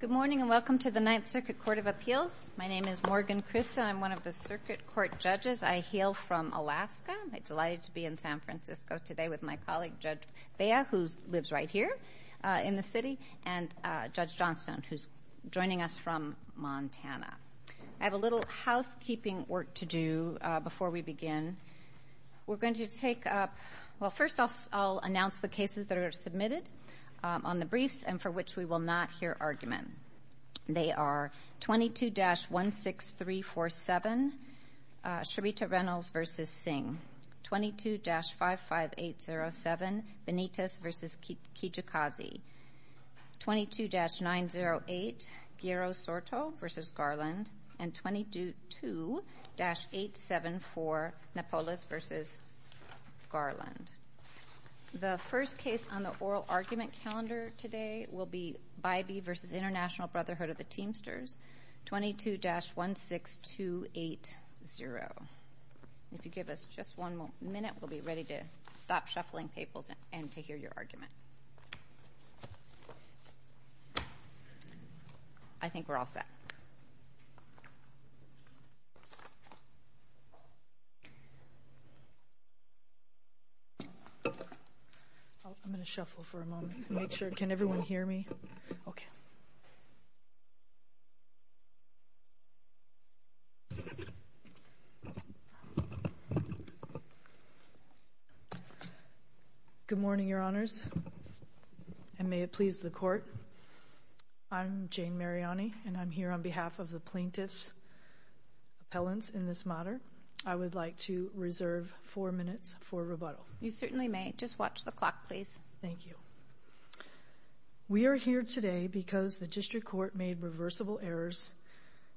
Good morning, and welcome to the Ninth Circuit Court of Appeals. My name is Morgan Christen. I'm one of the circuit court judges. I hail from Alaska. I'm delighted to be in San Francisco today with my colleague, Judge Bea, who lives right here in the city, and Judge Johnstone, who's joining us from Montana. I have a little housekeeping work to do before we begin. We're cases that are submitted on the briefs and for which we will not hear argument. They are 22-16347, Sherita Reynolds v. Singh, 22-55807, Benitez v. Kijikazi, 22-908, Piero Soto v. Garland. The first case on the oral argument calendar today will be Bybee v. International Brotherhood of the Teamsters, 22-16280. If you give us just one minute, we'll be ready to stop shuffling papers and to hear your argument. I think we're all set. I'm going to shuffle for a moment to make sure. Can everyone hear me? Okay. Good morning, Your Honors, and may it please the Court. I'm Jane Mariani, and I'm here on behalf of the plaintiffs' appellants in this matter. I would like to reserve four minutes for rebuttal. You certainly may. Just watch the clock, please. Thank you. We are here today because the district court made reversible errors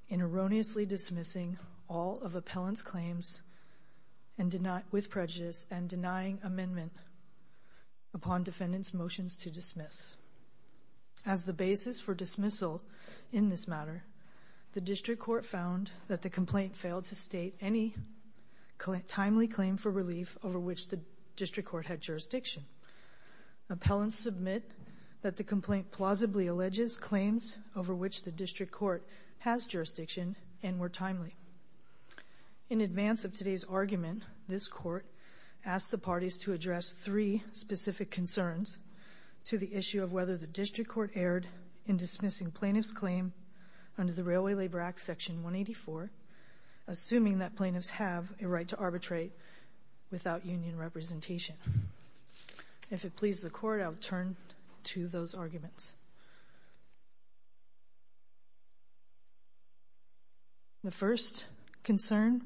in erroneously dismissing all of appellants' claims with upon defendants' motions to dismiss. As the basis for dismissal in this matter, the district court found that the complaint failed to state any timely claim for relief over which the district court had jurisdiction. Appellants submit that the complaint plausibly alleges claims over which the district court has jurisdiction and were timely. In advance of today's argument, this Court asked the parties to address three specific concerns to the issue of whether the district court erred in dismissing plaintiffs' claim under the Railway Labor Act Section 184, assuming that plaintiffs have a right to arbitrate without union representation. If it pleases the Court, I will turn to those arguments. The first concern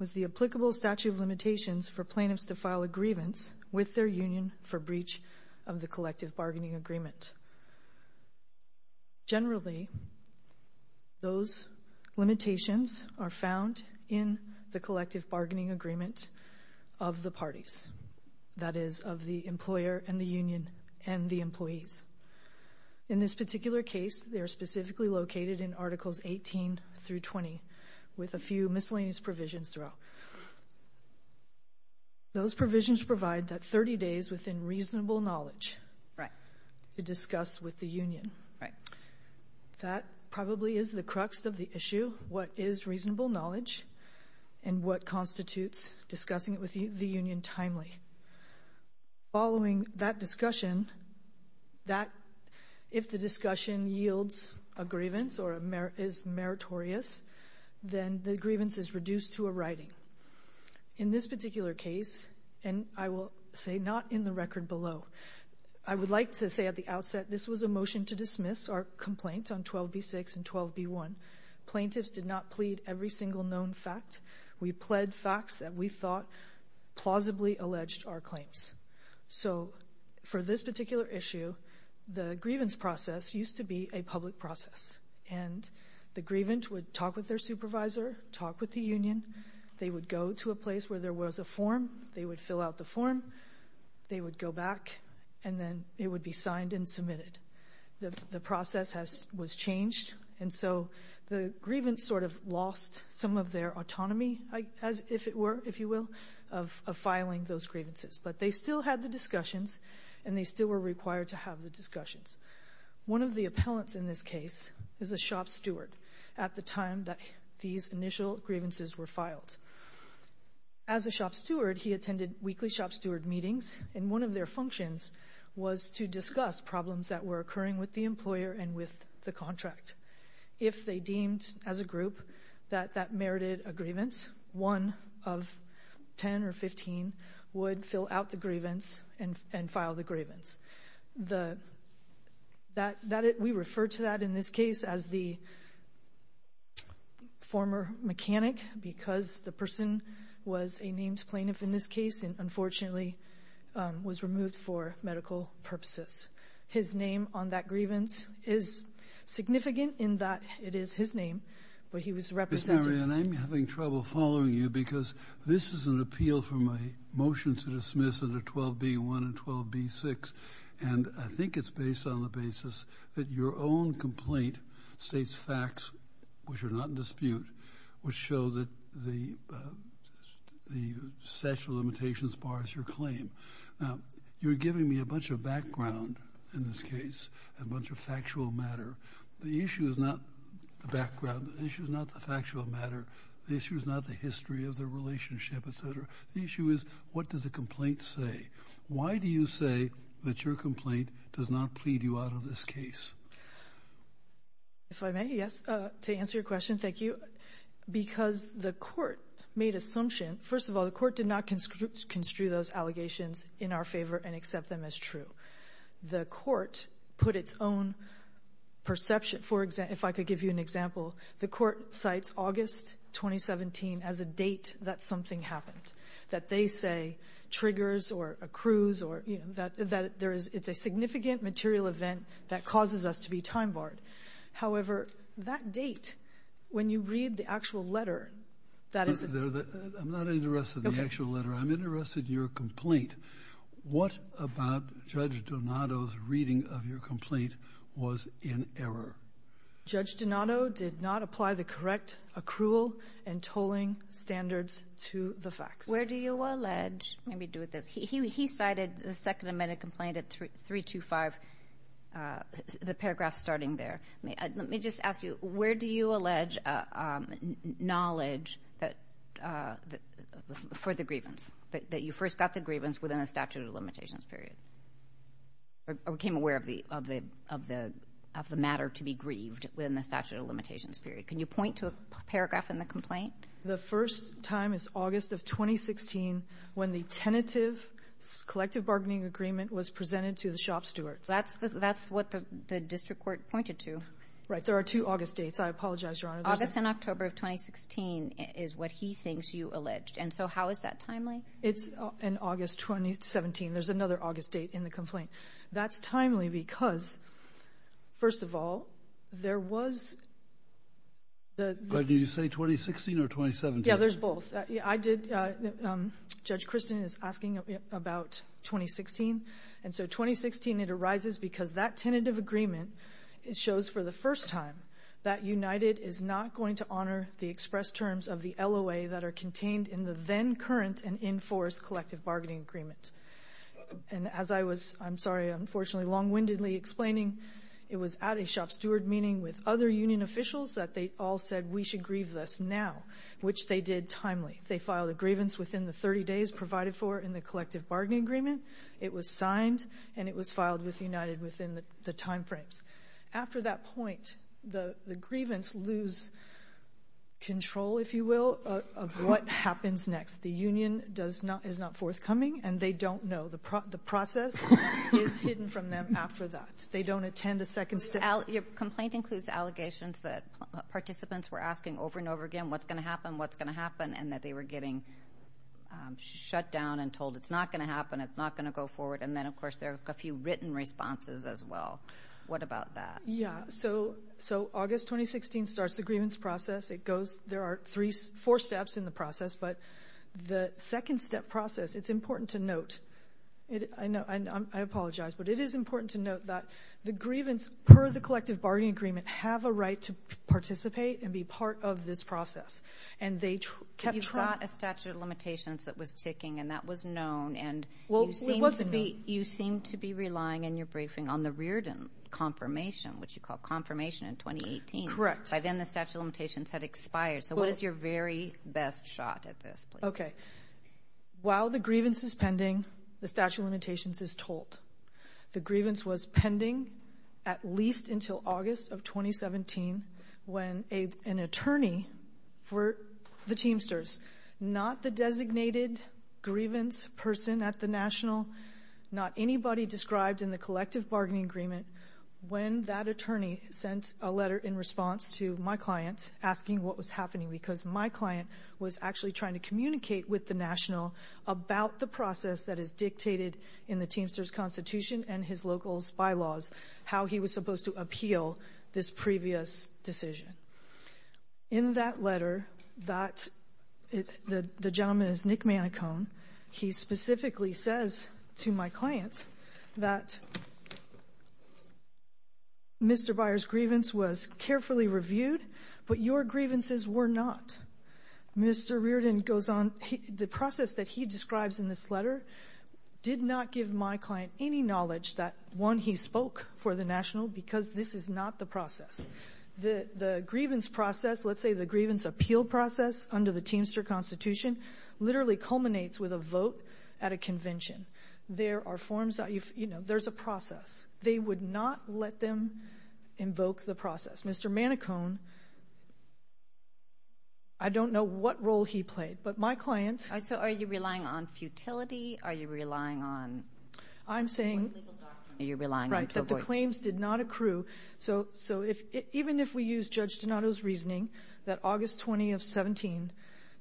was the applicable statute of limitations for plaintiffs to file a grievance with their union for breach of the collective bargaining agreement. Generally, those limitations are found in the collective bargaining agreement of the parties, that is of the employer and the union and the employees. In this particular case, they are specifically located in Articles 18 through 20 with a few miscellaneous provisions throughout. Those provisions provide that 30 days within reasonable knowledge to discuss with the union. That probably is the crux of the issue, what is reasonable knowledge and what constitutes discussing it with the union timely. Following that discussion, if the discussion yields a grievance or is meritorious, then the grievance is reduced to a writing. In this particular case, and I will say not in the record below, I would like to say at the outset that this was a motion to dismiss our complaint on 12b6 and 12b1. Plaintiffs did not plead every single known fact. We pled facts that we thought plausibly alleged our claims. For this particular issue, the grievance process used to be a public process. The grievant would talk with their supervisor, talk with the union, they would go to a place where there was a form, they would fill out the form, they would go back and then it would be signed and submitted. The process was changed. The grievance sort of ended up filing those grievances, but they still had the discussions and they still were required to have the discussions. One of the appellants in this case was a shop steward at the time that these initial grievances were filed. As a shop steward, he attended weekly shop steward meetings and one of their functions was to discuss problems that were occurring with the employer and with the contract. If they deemed as a group that that merited a grievance, one of 10 or 15 would fill out the grievance and file the grievance. We refer to that in this case as the former mechanic because the person was a named plaintiff in this case and unfortunately was removed for medical purposes. His name on that grievance is significant in that it is his name, but he was represented. Mr. Marion, I'm having trouble following you because this is an appeal for my motion to dismiss under 12B1 and 12B6 and I think it's based on the basis that your own complaint states facts which are not in dispute, which show that the statute of limitations bars your claim. Now, you're giving me a bunch of background in this case, a bunch of factual matter. The issue is not the background, the issue is not the factual matter, the issue is not the history of the relationship, etc. The issue is what does the complaint say? Why do you say that your complaint does not plead you out of this case? If I may, yes. To answer your question, thank you. Because the court made assumption, first of all the court did not construe those allegations in our favor and accept them as true. The court put its own perception, for example, if I could give you an example, the court cites August 2017 as a date that something happened, that they say triggers or accrues or that it's a significant material event that causes us to be time barred. However, that date, when you read the actual letter, that is... I'm not interested in the actual letter. I'm interested in your complaint. What about Judge Donato's reading of your complaint was in error? Judge Donato did not apply the correct accrual and tolling standards to the facts. Where do you allege... Let me do this. He cited the Second Amendment complaint at 325, the paragraph starting there. Let me just ask you, where do you allege knowledge for the grievance, that you first got the grievance within a statute of limitations period, or became aware of the matter to be grieved within the statute of limitations period? Can you point to a paragraph in the complaint? The first time is August of 2016 when the tentative collective bargaining agreement was presented to the shop stewards. That's what the district court pointed to. Right. There are two August dates. I apologize, Your Honor. August and October of 2016 is what he thinks you alleged. How is that timely? It's in August 2017. There's another August date in the complaint. That's timely because, first of all, there was... Did you say 2016 or 2017? Yeah, there's both. Judge Christin is asking about 2016. 2016, it arises because that tentative agreement shows for the first time that United is not going to honor the express terms of the LOA that are contained in the then current and in force collective bargaining agreement. As I was, I'm sorry, unfortunately, long-windedly explaining, it was at a shop steward meeting with other union officials that they all said, we should grieve this now, which they did timely. They filed a grievance within the 30 days provided for in the collective bargaining agreement. It was signed, and it was filed with United within the time frames. After that point, the grievance lose control, if you will, of what happens next. The union does not, is not forthcoming, and they don't know. The process is hidden from them after that. They don't attend a second step. Your complaint includes allegations that participants were asking over and over again what's going to happen, what's going to happen, and that they were getting shut down and told it's not going to happen, it's not going to go forward, and then, of course, there are a few written responses as well. What about that? Yeah, so August 2016 starts the grievance process. There are four steps in the process, but the second step process, it's important to note. I apologize, but it is important to note that the grievance, per the collective bargaining agreement, have a right to participate and be part of this process, and they kept track. You've got a statute of limitations that was ticking, and that was known, and you seem to be relying in your briefing on the Reardon confirmation, which you call confirmation in 2018. Correct. By then, the statute of limitations had expired, so what is your very best shot at this? Okay. While the grievance is pending, the statute of limitations is told. The grievance was pending at least until August of 2017 when an attorney for the Teamsters, not the designated grievance person at the National, not anybody described in the collective bargaining agreement, when that attorney sent a letter in response to my client asking what was happening because my client was actually trying to communicate with the National about the process that is dictated in the Teamsters Constitution and his local bylaws, how he was supposed to appeal this previous decision. In that letter, the gentleman is Nick Manicone. He specifically says to my client that Mr. Reardon goes on, the process that he describes in this letter did not give my client any knowledge that, one, he spoke for the National because this is not the process. The grievance process, let's say the grievance appeal process under the Teamster Constitution, literally culminates with a vote at a convention. There are forms, there's a process. They would not let them invoke the process. Mr. Manicone, I don't know what role he played, but my client – So are you relying on futility? Are you relying on – I'm saying that the claims did not accrue. So even if we use Judge Donato's reasoning that August 20 of 17,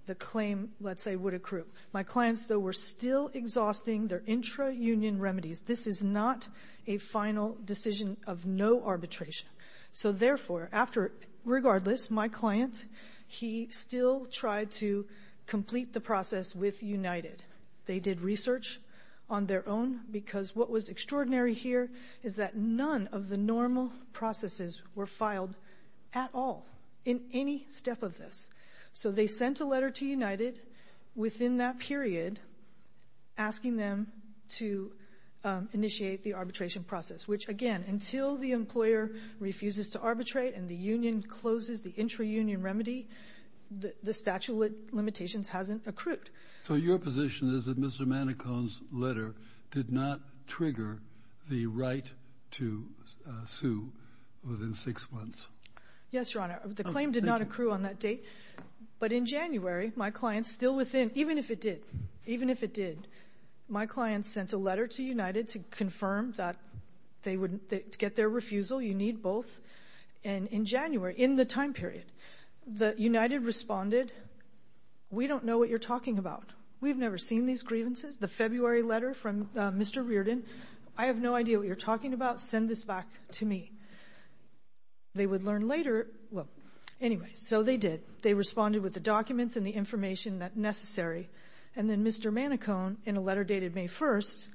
the claim, let's say, would accrue. My clients, though, were still exhausting their intra-union remedies. This is not a final decision of no arbitration. So therefore, regardless, my client, he still tried to complete the process with United. They did research on their own because what was extraordinary here is that none of the normal processes were filed at all in any step of this. So they sent a letter to United within that period asking them to initiate the arbitration process, which, again, until the employer refuses to arbitrate and the union closes the intra-union remedy, the statute of limitations hasn't accrued. So your position is that Mr. Manicone's letter did not trigger the right to sue within six months? Yes, Your Honor, I'm not sure on that date. But in January, my clients still within – even if it did, even if it did – my clients sent a letter to United to confirm that they would get their refusal. You need both. And in January, in the time period, United responded, we don't know what you're talking about. We've never seen these grievances. The February letter from Mr. Reardon, I have no idea what you're talking about. Send this back to me. They would learn later – well, anyway, so they did. They responded with the documents and the information necessary. And then Mr. Manicone, in a letter dated May 1st,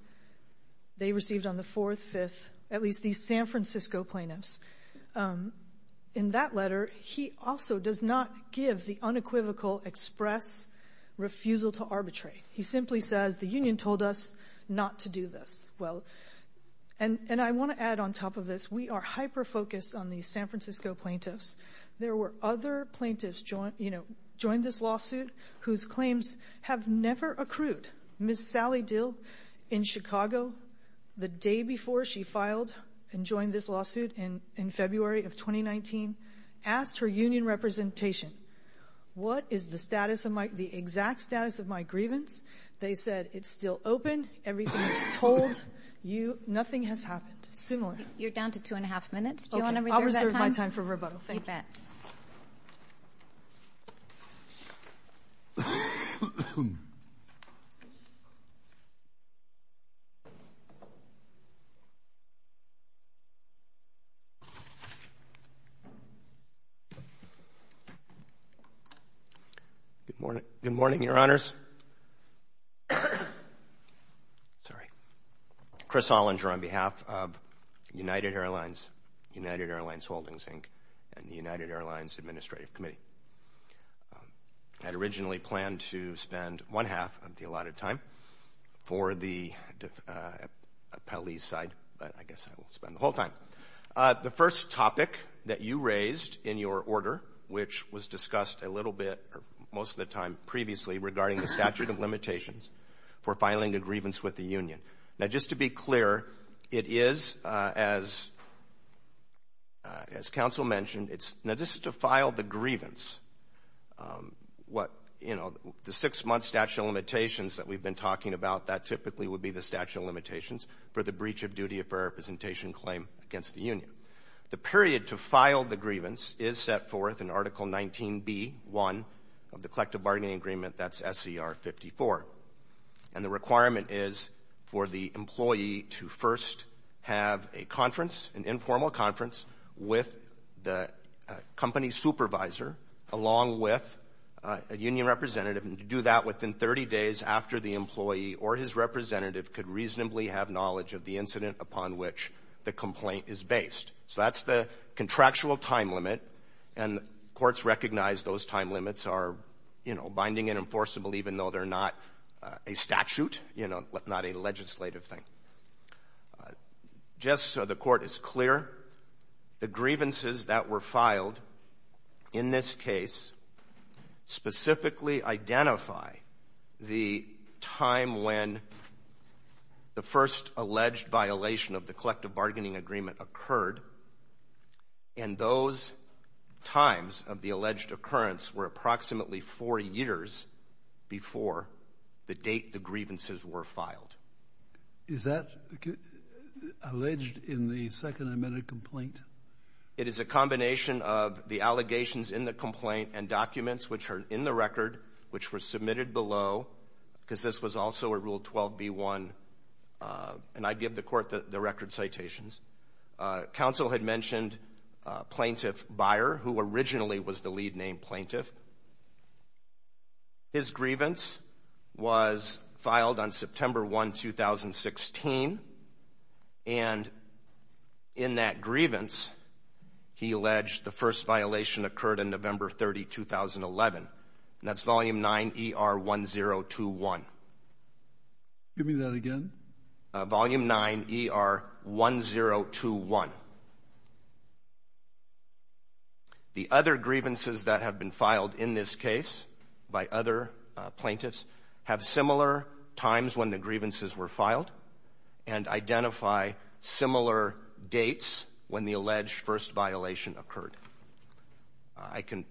they received on the 4th, 5th, at least these San Francisco plaintiffs. In that letter, he also does not give the unequivocal express refusal to arbitrate. He simply says the union told us not to do this. Well, and I want to add on top of this, we are hyper-focused on these San Francisco plaintiffs. There were other plaintiffs, you know, joined this lawsuit whose claims have never accrued. Ms. Sally Dill in Chicago, the day before she filed and joined this lawsuit in February of 2019, asked her union representation, what is the status of my – the exact status of my grievance. They said it's still open, everything is told you, nothing has happened. Similar. You're down to two and a half minutes. Do you want to reserve that time? I'll reserve it. Sorry. Chris Hollinger on behalf of United Airlines, United Airlines Holdings, Inc. and United Airlines Administrative Committee. I had originally planned to spend one half of the allotted time for the appellee's side, but I guess I will spend the whole time. The first topic that you raised in your order, which was discussed a little bit, most of the time previously, regarding the statute of limitations for filing a grievance with the union. Now, just to be clear, it is, as counsel mentioned, it's – now, this is to file the grievance. What, you know, the six-month statute of limitations that we've been talking about, that typically would be the statute of limitations for the breach of duty of representation claim against the union. The period to file the grievance is set forth in Article 19B.1 of the Collective Bargaining Agreement. That's SCR 54. And the requirement is for the employee to first have a conference, an informal conference, with the company supervisor, along with a union representative. And to do that within 30 days after the employee or his representative could reasonably have knowledge of the incident upon which the complaint is based. So that's the contractual time limit. And courts recognize those time limits are, you know, binding and enforceable, even though they're not a statute, you know, not a legislative thing. Just so the Court is clear, the grievances that were of the Collective Bargaining Agreement occurred. And those times of the alleged occurrence were approximately four years before the date the grievances were filed. Is that alleged in the Second Amended Complaint? It is a combination of the allegations in the complaint and documents which are in the record, which were submitted below, because this was also a Rule 12b.1. And I give the record citations. Counsel had mentioned Plaintiff Byer, who originally was the lead name Plaintiff. His grievance was filed on September 1, 2016. And in that grievance, he alleged the first violation occurred on November 30, 2011. And that's Volume 9 ER 1021. Give me that again. Volume 9 ER 1021. The other grievances that have been filed in this case by other plaintiffs have similar times when the grievances were filed and identify similar dates when the alleged first violation occurred. I can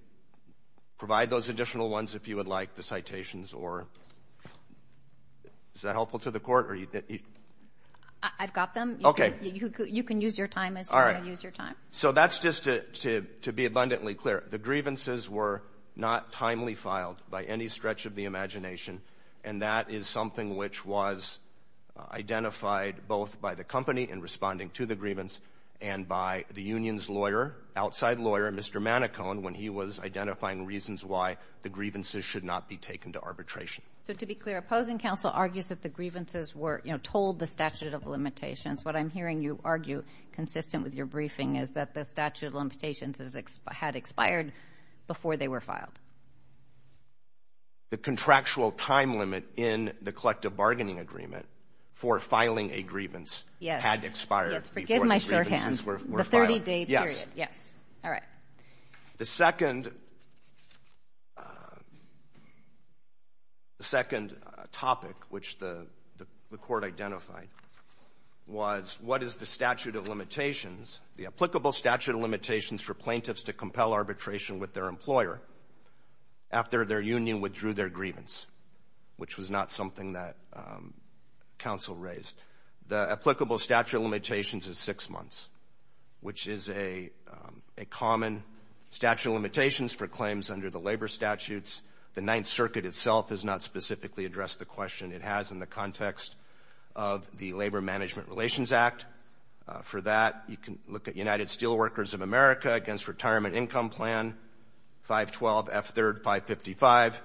provide those additional ones if you would like the I've got them. You can use your time as you want to use your time. So that's just to be abundantly clear. The grievances were not timely filed by any stretch of the imagination. And that is something which was identified both by the company in responding to the grievance and by the union's lawyer, outside lawyer, Mr. Manicone, when he was identifying reasons why the grievances should not be taken to arbitration. So to be clear, opposing counsel argues that the grievances were told the statute of limitations. What I'm hearing you argue consistent with your briefing is that the statute of limitations had expired before they were filed. The contractual time limit in the collective bargaining agreement for filing a grievance had expired. Yes, forgive my shorthand. The 30-day period. Yes. All right. The second topic which the court identified was what is the statute of limitations, the applicable statute of limitations for plaintiffs to compel arbitration with their employer after their union withdrew their grievance, which was not something that counsel raised. The applicable statute of limitations is six months, which is a common statute of limitations for claims under the labor statutes. The Ninth Circuit itself has not specifically addressed the question. It has in the context of the Labor Management Relations Act. For that, you can look at United Steelworkers of America against Retirement Income Plan, 512 F. 3rd, 555,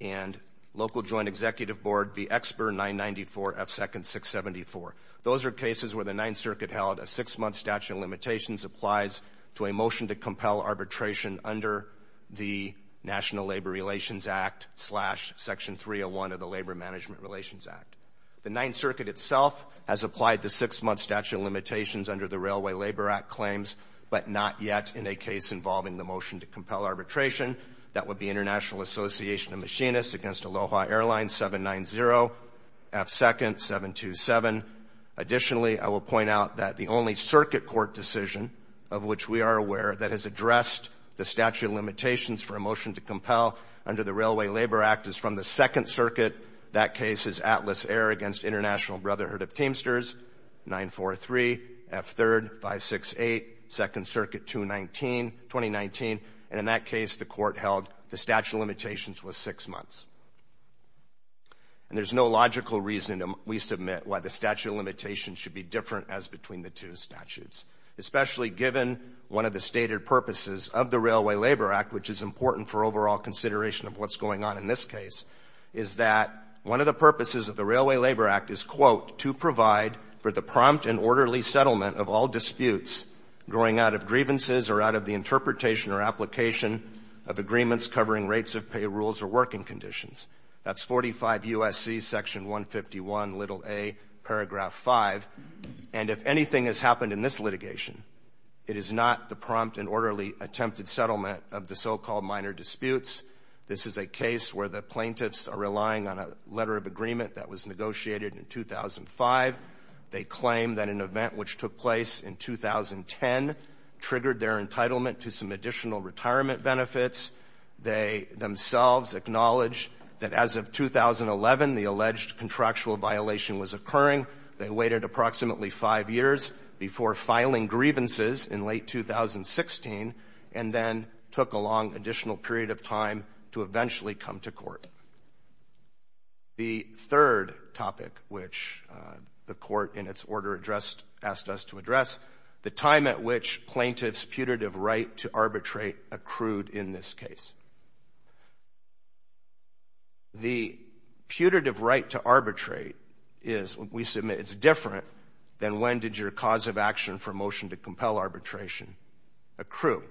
and Local Joint Executive Board v. Exber, 994 F. 2nd, 674. Those are cases where the Ninth Circuit held a six-month statute of limitations applies to a motion to compel arbitration under the National Labor Relations Act slash Section 301 of the Labor Management Relations Act. The Ninth Circuit itself has applied the six-month statute of limitations under the Railway Labor Act claims, but not yet in a case involving the motion to compel arbitration. That would be International Association of Machinists against Aloha Airlines, 790 F. 2nd, 727. Additionally, I will point out that the only circuit court decision of which we are aware that has addressed the statute of limitations for a motion to compel under the Railway Labor Act is from the Second Circuit. That case is Atlas Air against International Brotherhood of Teamsters, 943 F. 3rd, 568, Second Circuit 219, 2019, and in that case, the court held the statute of limitations was six months. And there's no logical reason, we submit, why the statute of limitations should be different as between the two statutes, especially given one of the stated purposes of the Railway Labor Act, which is important for overall consideration of what's going on in this case, is that one of the purposes of the Railway Labor Act is, quote, to provide for the prompt and orderly settlement of all disputes growing out of grievances or out of the interpretation or application of agreements covering rates of pay rules or working conditions. That's 45 U.S.C. section 151, little a, paragraph 5. And if anything has happened in this litigation, it is not the prompt and orderly attempted settlement of the so-called minor disputes. This is a case where the plaintiffs are relying on a letter of agreement that was negotiated in 2005. They claim that an event which took place in 2010 triggered their entitlement to some additional retirement benefits. They themselves acknowledge that as of 2011, the alleged contractual violation was occurring. They waited approximately five years before filing grievances in late 2016 and then took a long additional period of time to eventually come to court. The third topic which the court in its order addressed, asked us to address, the time at which plaintiffs' putative right to arbitrate accrued in this case. The putative right to arbitrate is, we submit, it's different than when did your cause of action for motion to compel arbitration accrue.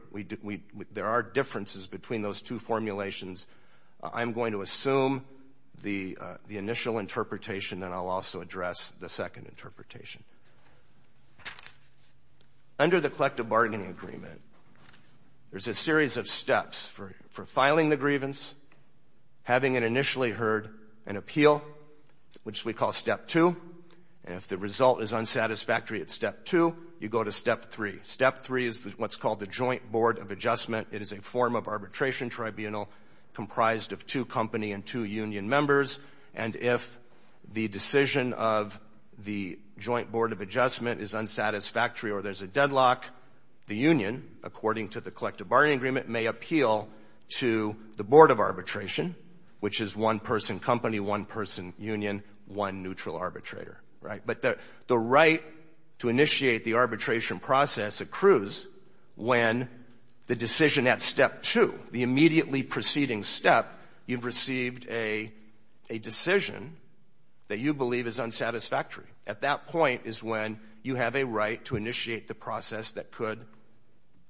There are differences between those two formulations. I'm going to assume the initial interpretation, and I'll also address the second interpretation. Under the collective bargaining agreement, there's a series of steps for filing the grievance, having it initially heard, and appeal, which we call step two. And if the result is unsatisfactory at step two, you go to step three. Step three is what's called the joint board of adjustment. It is a form of arbitration tribunal comprised of two company and two union members. And if the decision of the joint board of adjustment is unsatisfactory or there's a deadlock, the union, according to the collective bargaining agreement, may appeal to the board of arbitration, which is one person company, one person union, one neutral arbitrator. But the right to initiate the arbitration process accrues when the decision at step two, the immediately preceding step, you've received a decision that you believe is unsatisfactory. At that point is when you have a right to initiate the process that could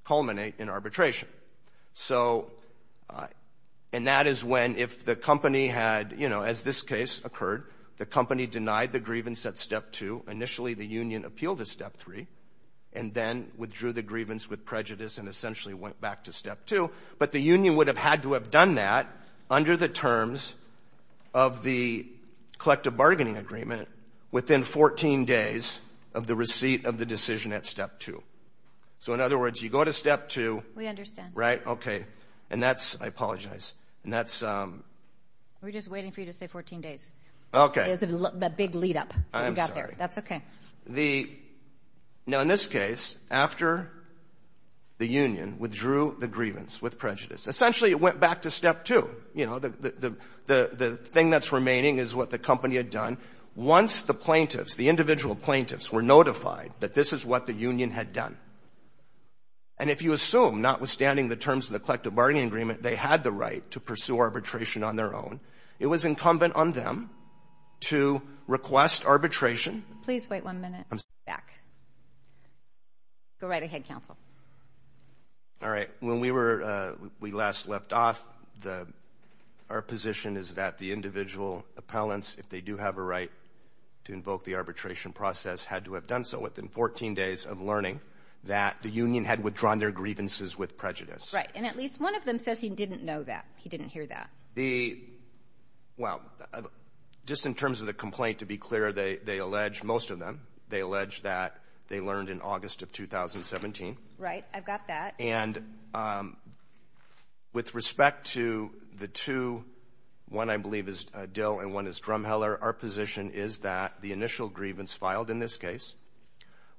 culminate in arbitration. So, and that is when if the company had, you know, as this case occurred, the company denied the grievance at step two, initially the union appealed at step three, and then withdrew the grievance with prejudice and essentially went back to step two. But the union would have had to have done that under the terms of the collective bargaining agreement within 14 days of the receipt of the decision at step two. So in other words, you go to step two. We understand. Right. Okay. And that's, I apologize. And that's. We're just waiting for you to say 14 days. Okay. It's a big lead up. I'm sorry. That's okay. The, now in this case, after the union withdrew the grievance with prejudice, essentially it went back to step two. You know, the thing that's remaining is what the company had done. Once the plaintiffs, the individual plaintiffs were notified that this is what the union had done. And if you assume, notwithstanding the terms of the collective bargaining agreement, they had the right to pursue arbitration on their own, it was incumbent on them to request arbitration. Please wait one minute. I'm sorry. Back. Go right ahead, counsel. All right. When we were, we last left off, the, our position is that the individual appellants, if they do have a right to invoke the arbitration process, had to have done so within 14 days of learning that the union had withdrawn their grievances with prejudice. Right. And at least one of them says he didn't know that. He didn't hear that. The, well, just in terms of the complaint, to be clear, they, they alleged, most of them, they alleged that they learned in August of 2017. Right. I've got that. And, um, with respect to the two, one I believe is a Dill and one is Drumheller, our position is that the initial grievance filed in this case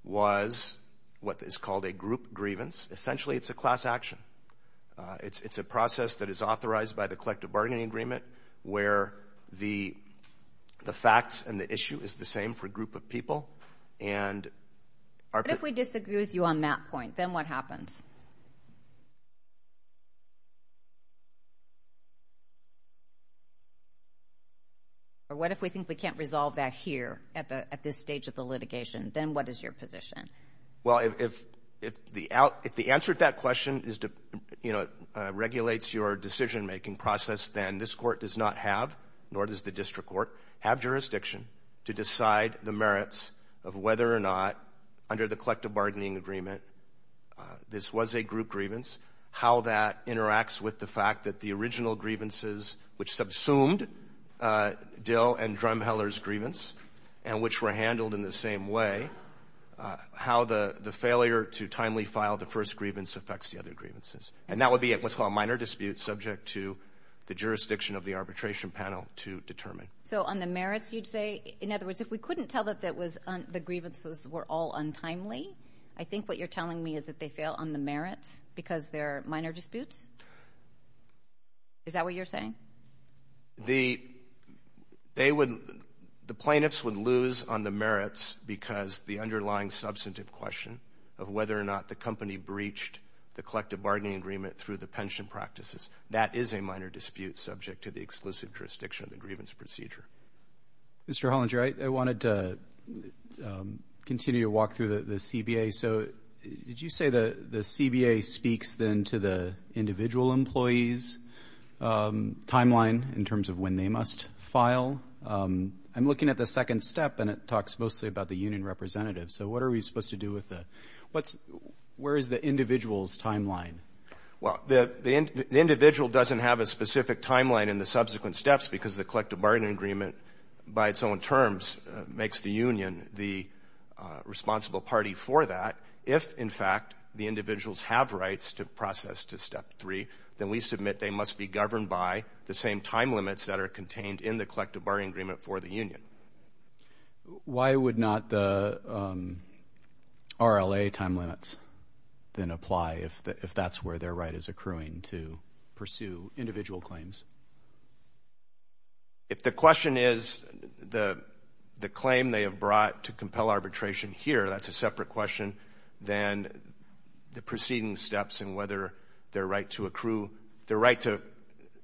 was what is called a group grievance. Essentially, it's a class action. Uh, it's, it's a process that is authorized by the collective bargaining agreement where the, the facts and the issue is the same for a group of people and are. What if we disagree with you on that point? Then what happens? Or what if we think we can't resolve that here at the, at this stage of the litigation? Then what is your position? Well, if, if the out, if the answer to that question is to, you know, uh, regulates your decision making process, then this court does not have, nor does the district court have jurisdiction to decide the merits of whether or not under the collective bargaining agreement, uh, this was a group grievance, how that interacts with the fact that the original grievances, which subsumed, uh, Dill and Drumheller's grievance and which were handled in the same way, uh, how the, the failure to timely file the first grievance affects the other grievances. And that would be what's called a minor dispute subject to the jurisdiction of the arbitration panel to determine. So on the merits, you'd say, in other words, if we couldn't tell that that was, the grievances were all untimely, I think what you're telling me is that they fail on the merits because there are minor disputes. Is that what you're saying? The, they would, the plaintiffs would lose on the merits because the underlying substantive question of whether or not the company breached the collective bargaining agreement through the pension practices. That is a minor dispute subject to the exclusive jurisdiction of the grievance procedure. Mr. Hollinger, I, I wanted to, um, continue to walk through the, the CBA. So did you say the, the CBA speaks then to the individual employees, um, timeline in terms of when they must file? Um, I'm looking at the second step and it talks mostly about the union representative. So what are we supposed to do with the, what's, where is the individual's timeline? Well, the, the, the individual doesn't have a specific timeline in the subsequent steps because the collective bargaining agreement by its own terms makes the union the, uh, responsible party for that. If in fact the individuals have rights to process to step three, then we submit they must be governed by the same time limits that are contained in the collective bargaining agreement for the union. Why would not the, um, RLA time limits then apply if the, if that's where their right is accruing to pursue individual claims? If the question is the, the claim they have brought to compel arbitration here, that's a separate question than the preceding steps and whether their right to accrue, their right to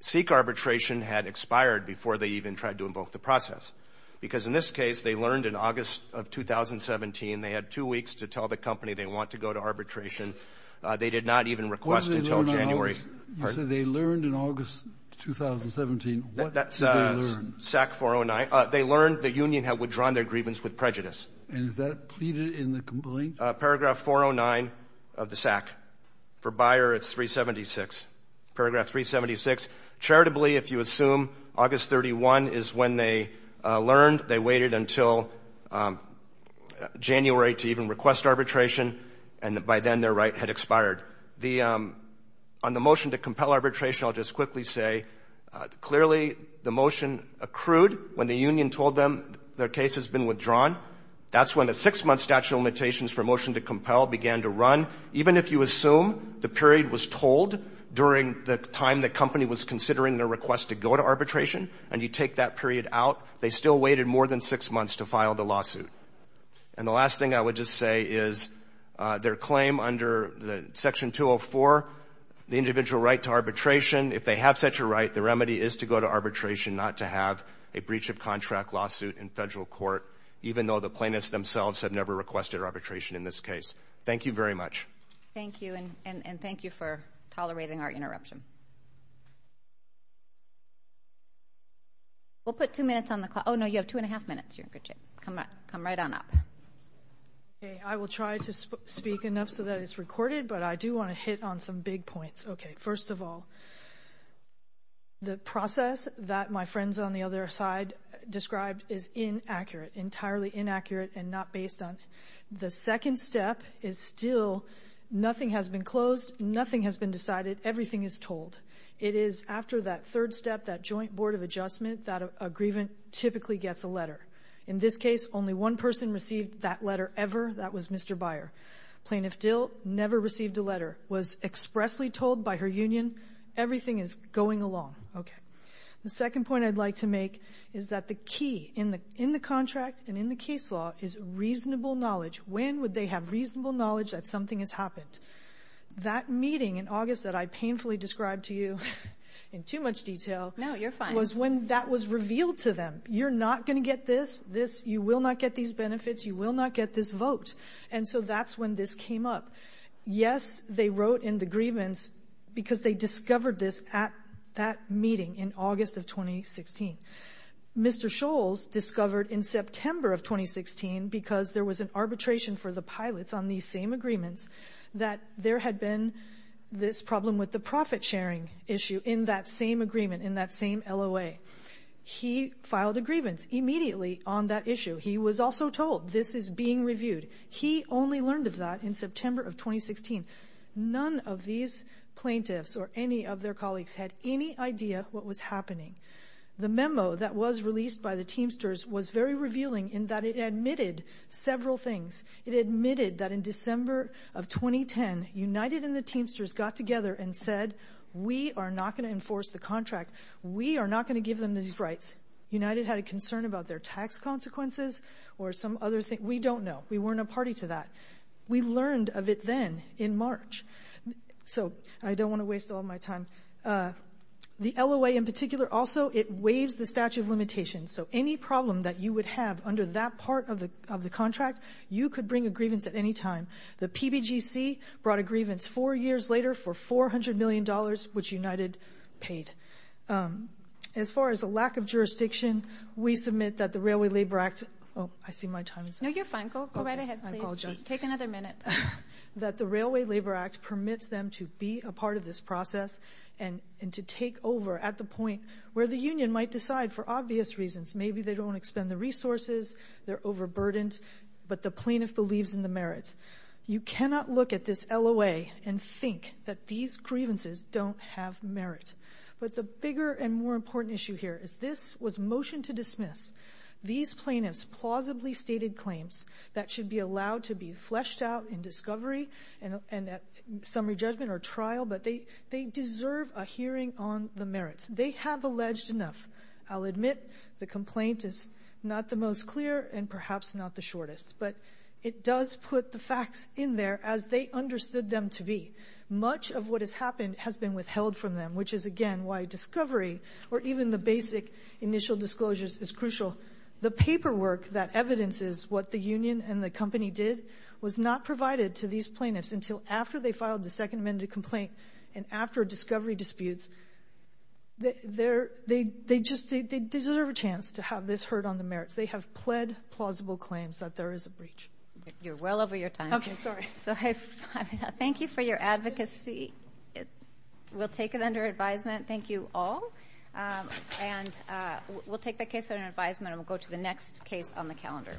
seek arbitration had expired before they even tried to invoke the process. Because in this case, they learned in August of 2017, they had two weeks to tell the company they want to go to arbitration. Uh, they did not even request until January. You said they learned in August of 2017, what did they learn? They learned the union had withdrawn their grievance with prejudice. And is that pleaded in the complaint? Paragraph 409 of the SAC. For Bayer, it's 376. Paragraph 376. Charitably, if you assume August 31 is when they learned, they waited until, um, January to even request arbitration and by then their right had expired. The, um, on the motion to compel arbitration, I'll just quickly say, uh, clearly the motion accrued when the union told them their case has been withdrawn. That's when the six-month statute of limitations for motion to compel began to run. Even if you assume the period was told during the time the company was considering their request to go to arbitration and you take that period out, they still waited more than six months to file the lawsuit. And the last thing I would just say is, uh, their claim under the section 204, the individual right to arbitration, if they have such a right, the remedy is to go to arbitration, not to have a breach of contract lawsuit in federal court, even though the plaintiffs themselves have never requested arbitration in this case. Thank you very much. Thank you. And, and, and thank you for tolerating our interruption. We'll put two minutes on the clock. Oh, no, you have two and a half minutes. You're in good shape. Come back. Come right on up. Okay. I will try to speak enough so that it's recorded, but I do want to hit on some big points. Okay. First of all, the process that my friends on the other side described is inaccurate, entirely inaccurate, and not based on. The second step is still nothing has been closed, nothing has been decided, everything is told. It is after that third step, that joint board of adjustment, that a grievant typically gets a letter. In this case, only one person received that letter ever. That was Mr. Byer. Plaintiff Dill never received a letter, was expressly told by her union, everything is going along. Okay. The second point I'd like to make is that the key in the, in the contract and in the case law is reasonable knowledge. When would they have reasonable knowledge that something has happened? That meeting in August that I painfully described to you in too much detail was when that was revealed to them. You're not going to get this, this, you will not get these benefits, you will not get this vote. And so that's when this came up. Yes, they wrote in the grievance because they discovered this at that meeting in August of 2016. Mr. Scholz discovered in September of 2016, because there was an arbitration for the pilots on these same agreements, that there had been this problem with the profit sharing issue in that same agreement, in that same LOA. He filed a grievance immediately on that issue. He was also told this is being reviewed. He only learned of that in September of 2016. None of these plaintiffs or any of their colleagues had any idea what was happening. The memo that was released by the Teamsters was very revealing in that it admitted several things. It admitted that in December of 2010, United and the Teamsters got together and said, we are not going to enforce the contract. We are not going to give them these rights. United had a concern about their tax consequences or some other thing. We don't know. We weren't a party to that. We learned of it then in March. So I don't want to waste all my time. The LOA in particular also, it waives the statute of limitations. So any problem that you would have under that part of the contract, you could bring a grievance at any time. The PBGC brought a grievance four years later for $400 million, which United paid. As far as a lack of jurisdiction, we submit that the Railway Labor Act – oh, I see my time is up. No, you're fine. Go right ahead, please. I apologize. Take another minute. That the Railway Labor Act permits them to be a part of this process and to take over at the point where the union might decide for obvious reasons. Maybe they don't want to expend the resources, they're overburdened, but the plaintiff believes in the merits. You cannot look at this LOA and think that these grievances don't have merit. But the bigger and more important issue here is this was motion to dismiss. These plaintiffs plausibly stated claims that should be allowed to be fleshed out in discovery and at summary judgment or trial, but they deserve a hearing on the merits. They have alleged enough. I'll admit the complaint is not the most clear and perhaps not the shortest. But it does put the facts in there as they understood them to be. Much of what has happened has been withheld from them, which is, again, why discovery or even the basic initial disclosures is crucial. The paperwork that evidences what the union and the company did was not provided to these plaintiffs until after they filed the Second Amendment complaint and after discovery disputes. They deserve a chance to have this heard on the merits. Because they have pled plausible claims that there is a breach. You're well over your time. Okay, sorry. So thank you for your advocacy. We'll take it under advisement. Thank you all. And we'll take the case under advisement and we'll go to the next case on the calendar.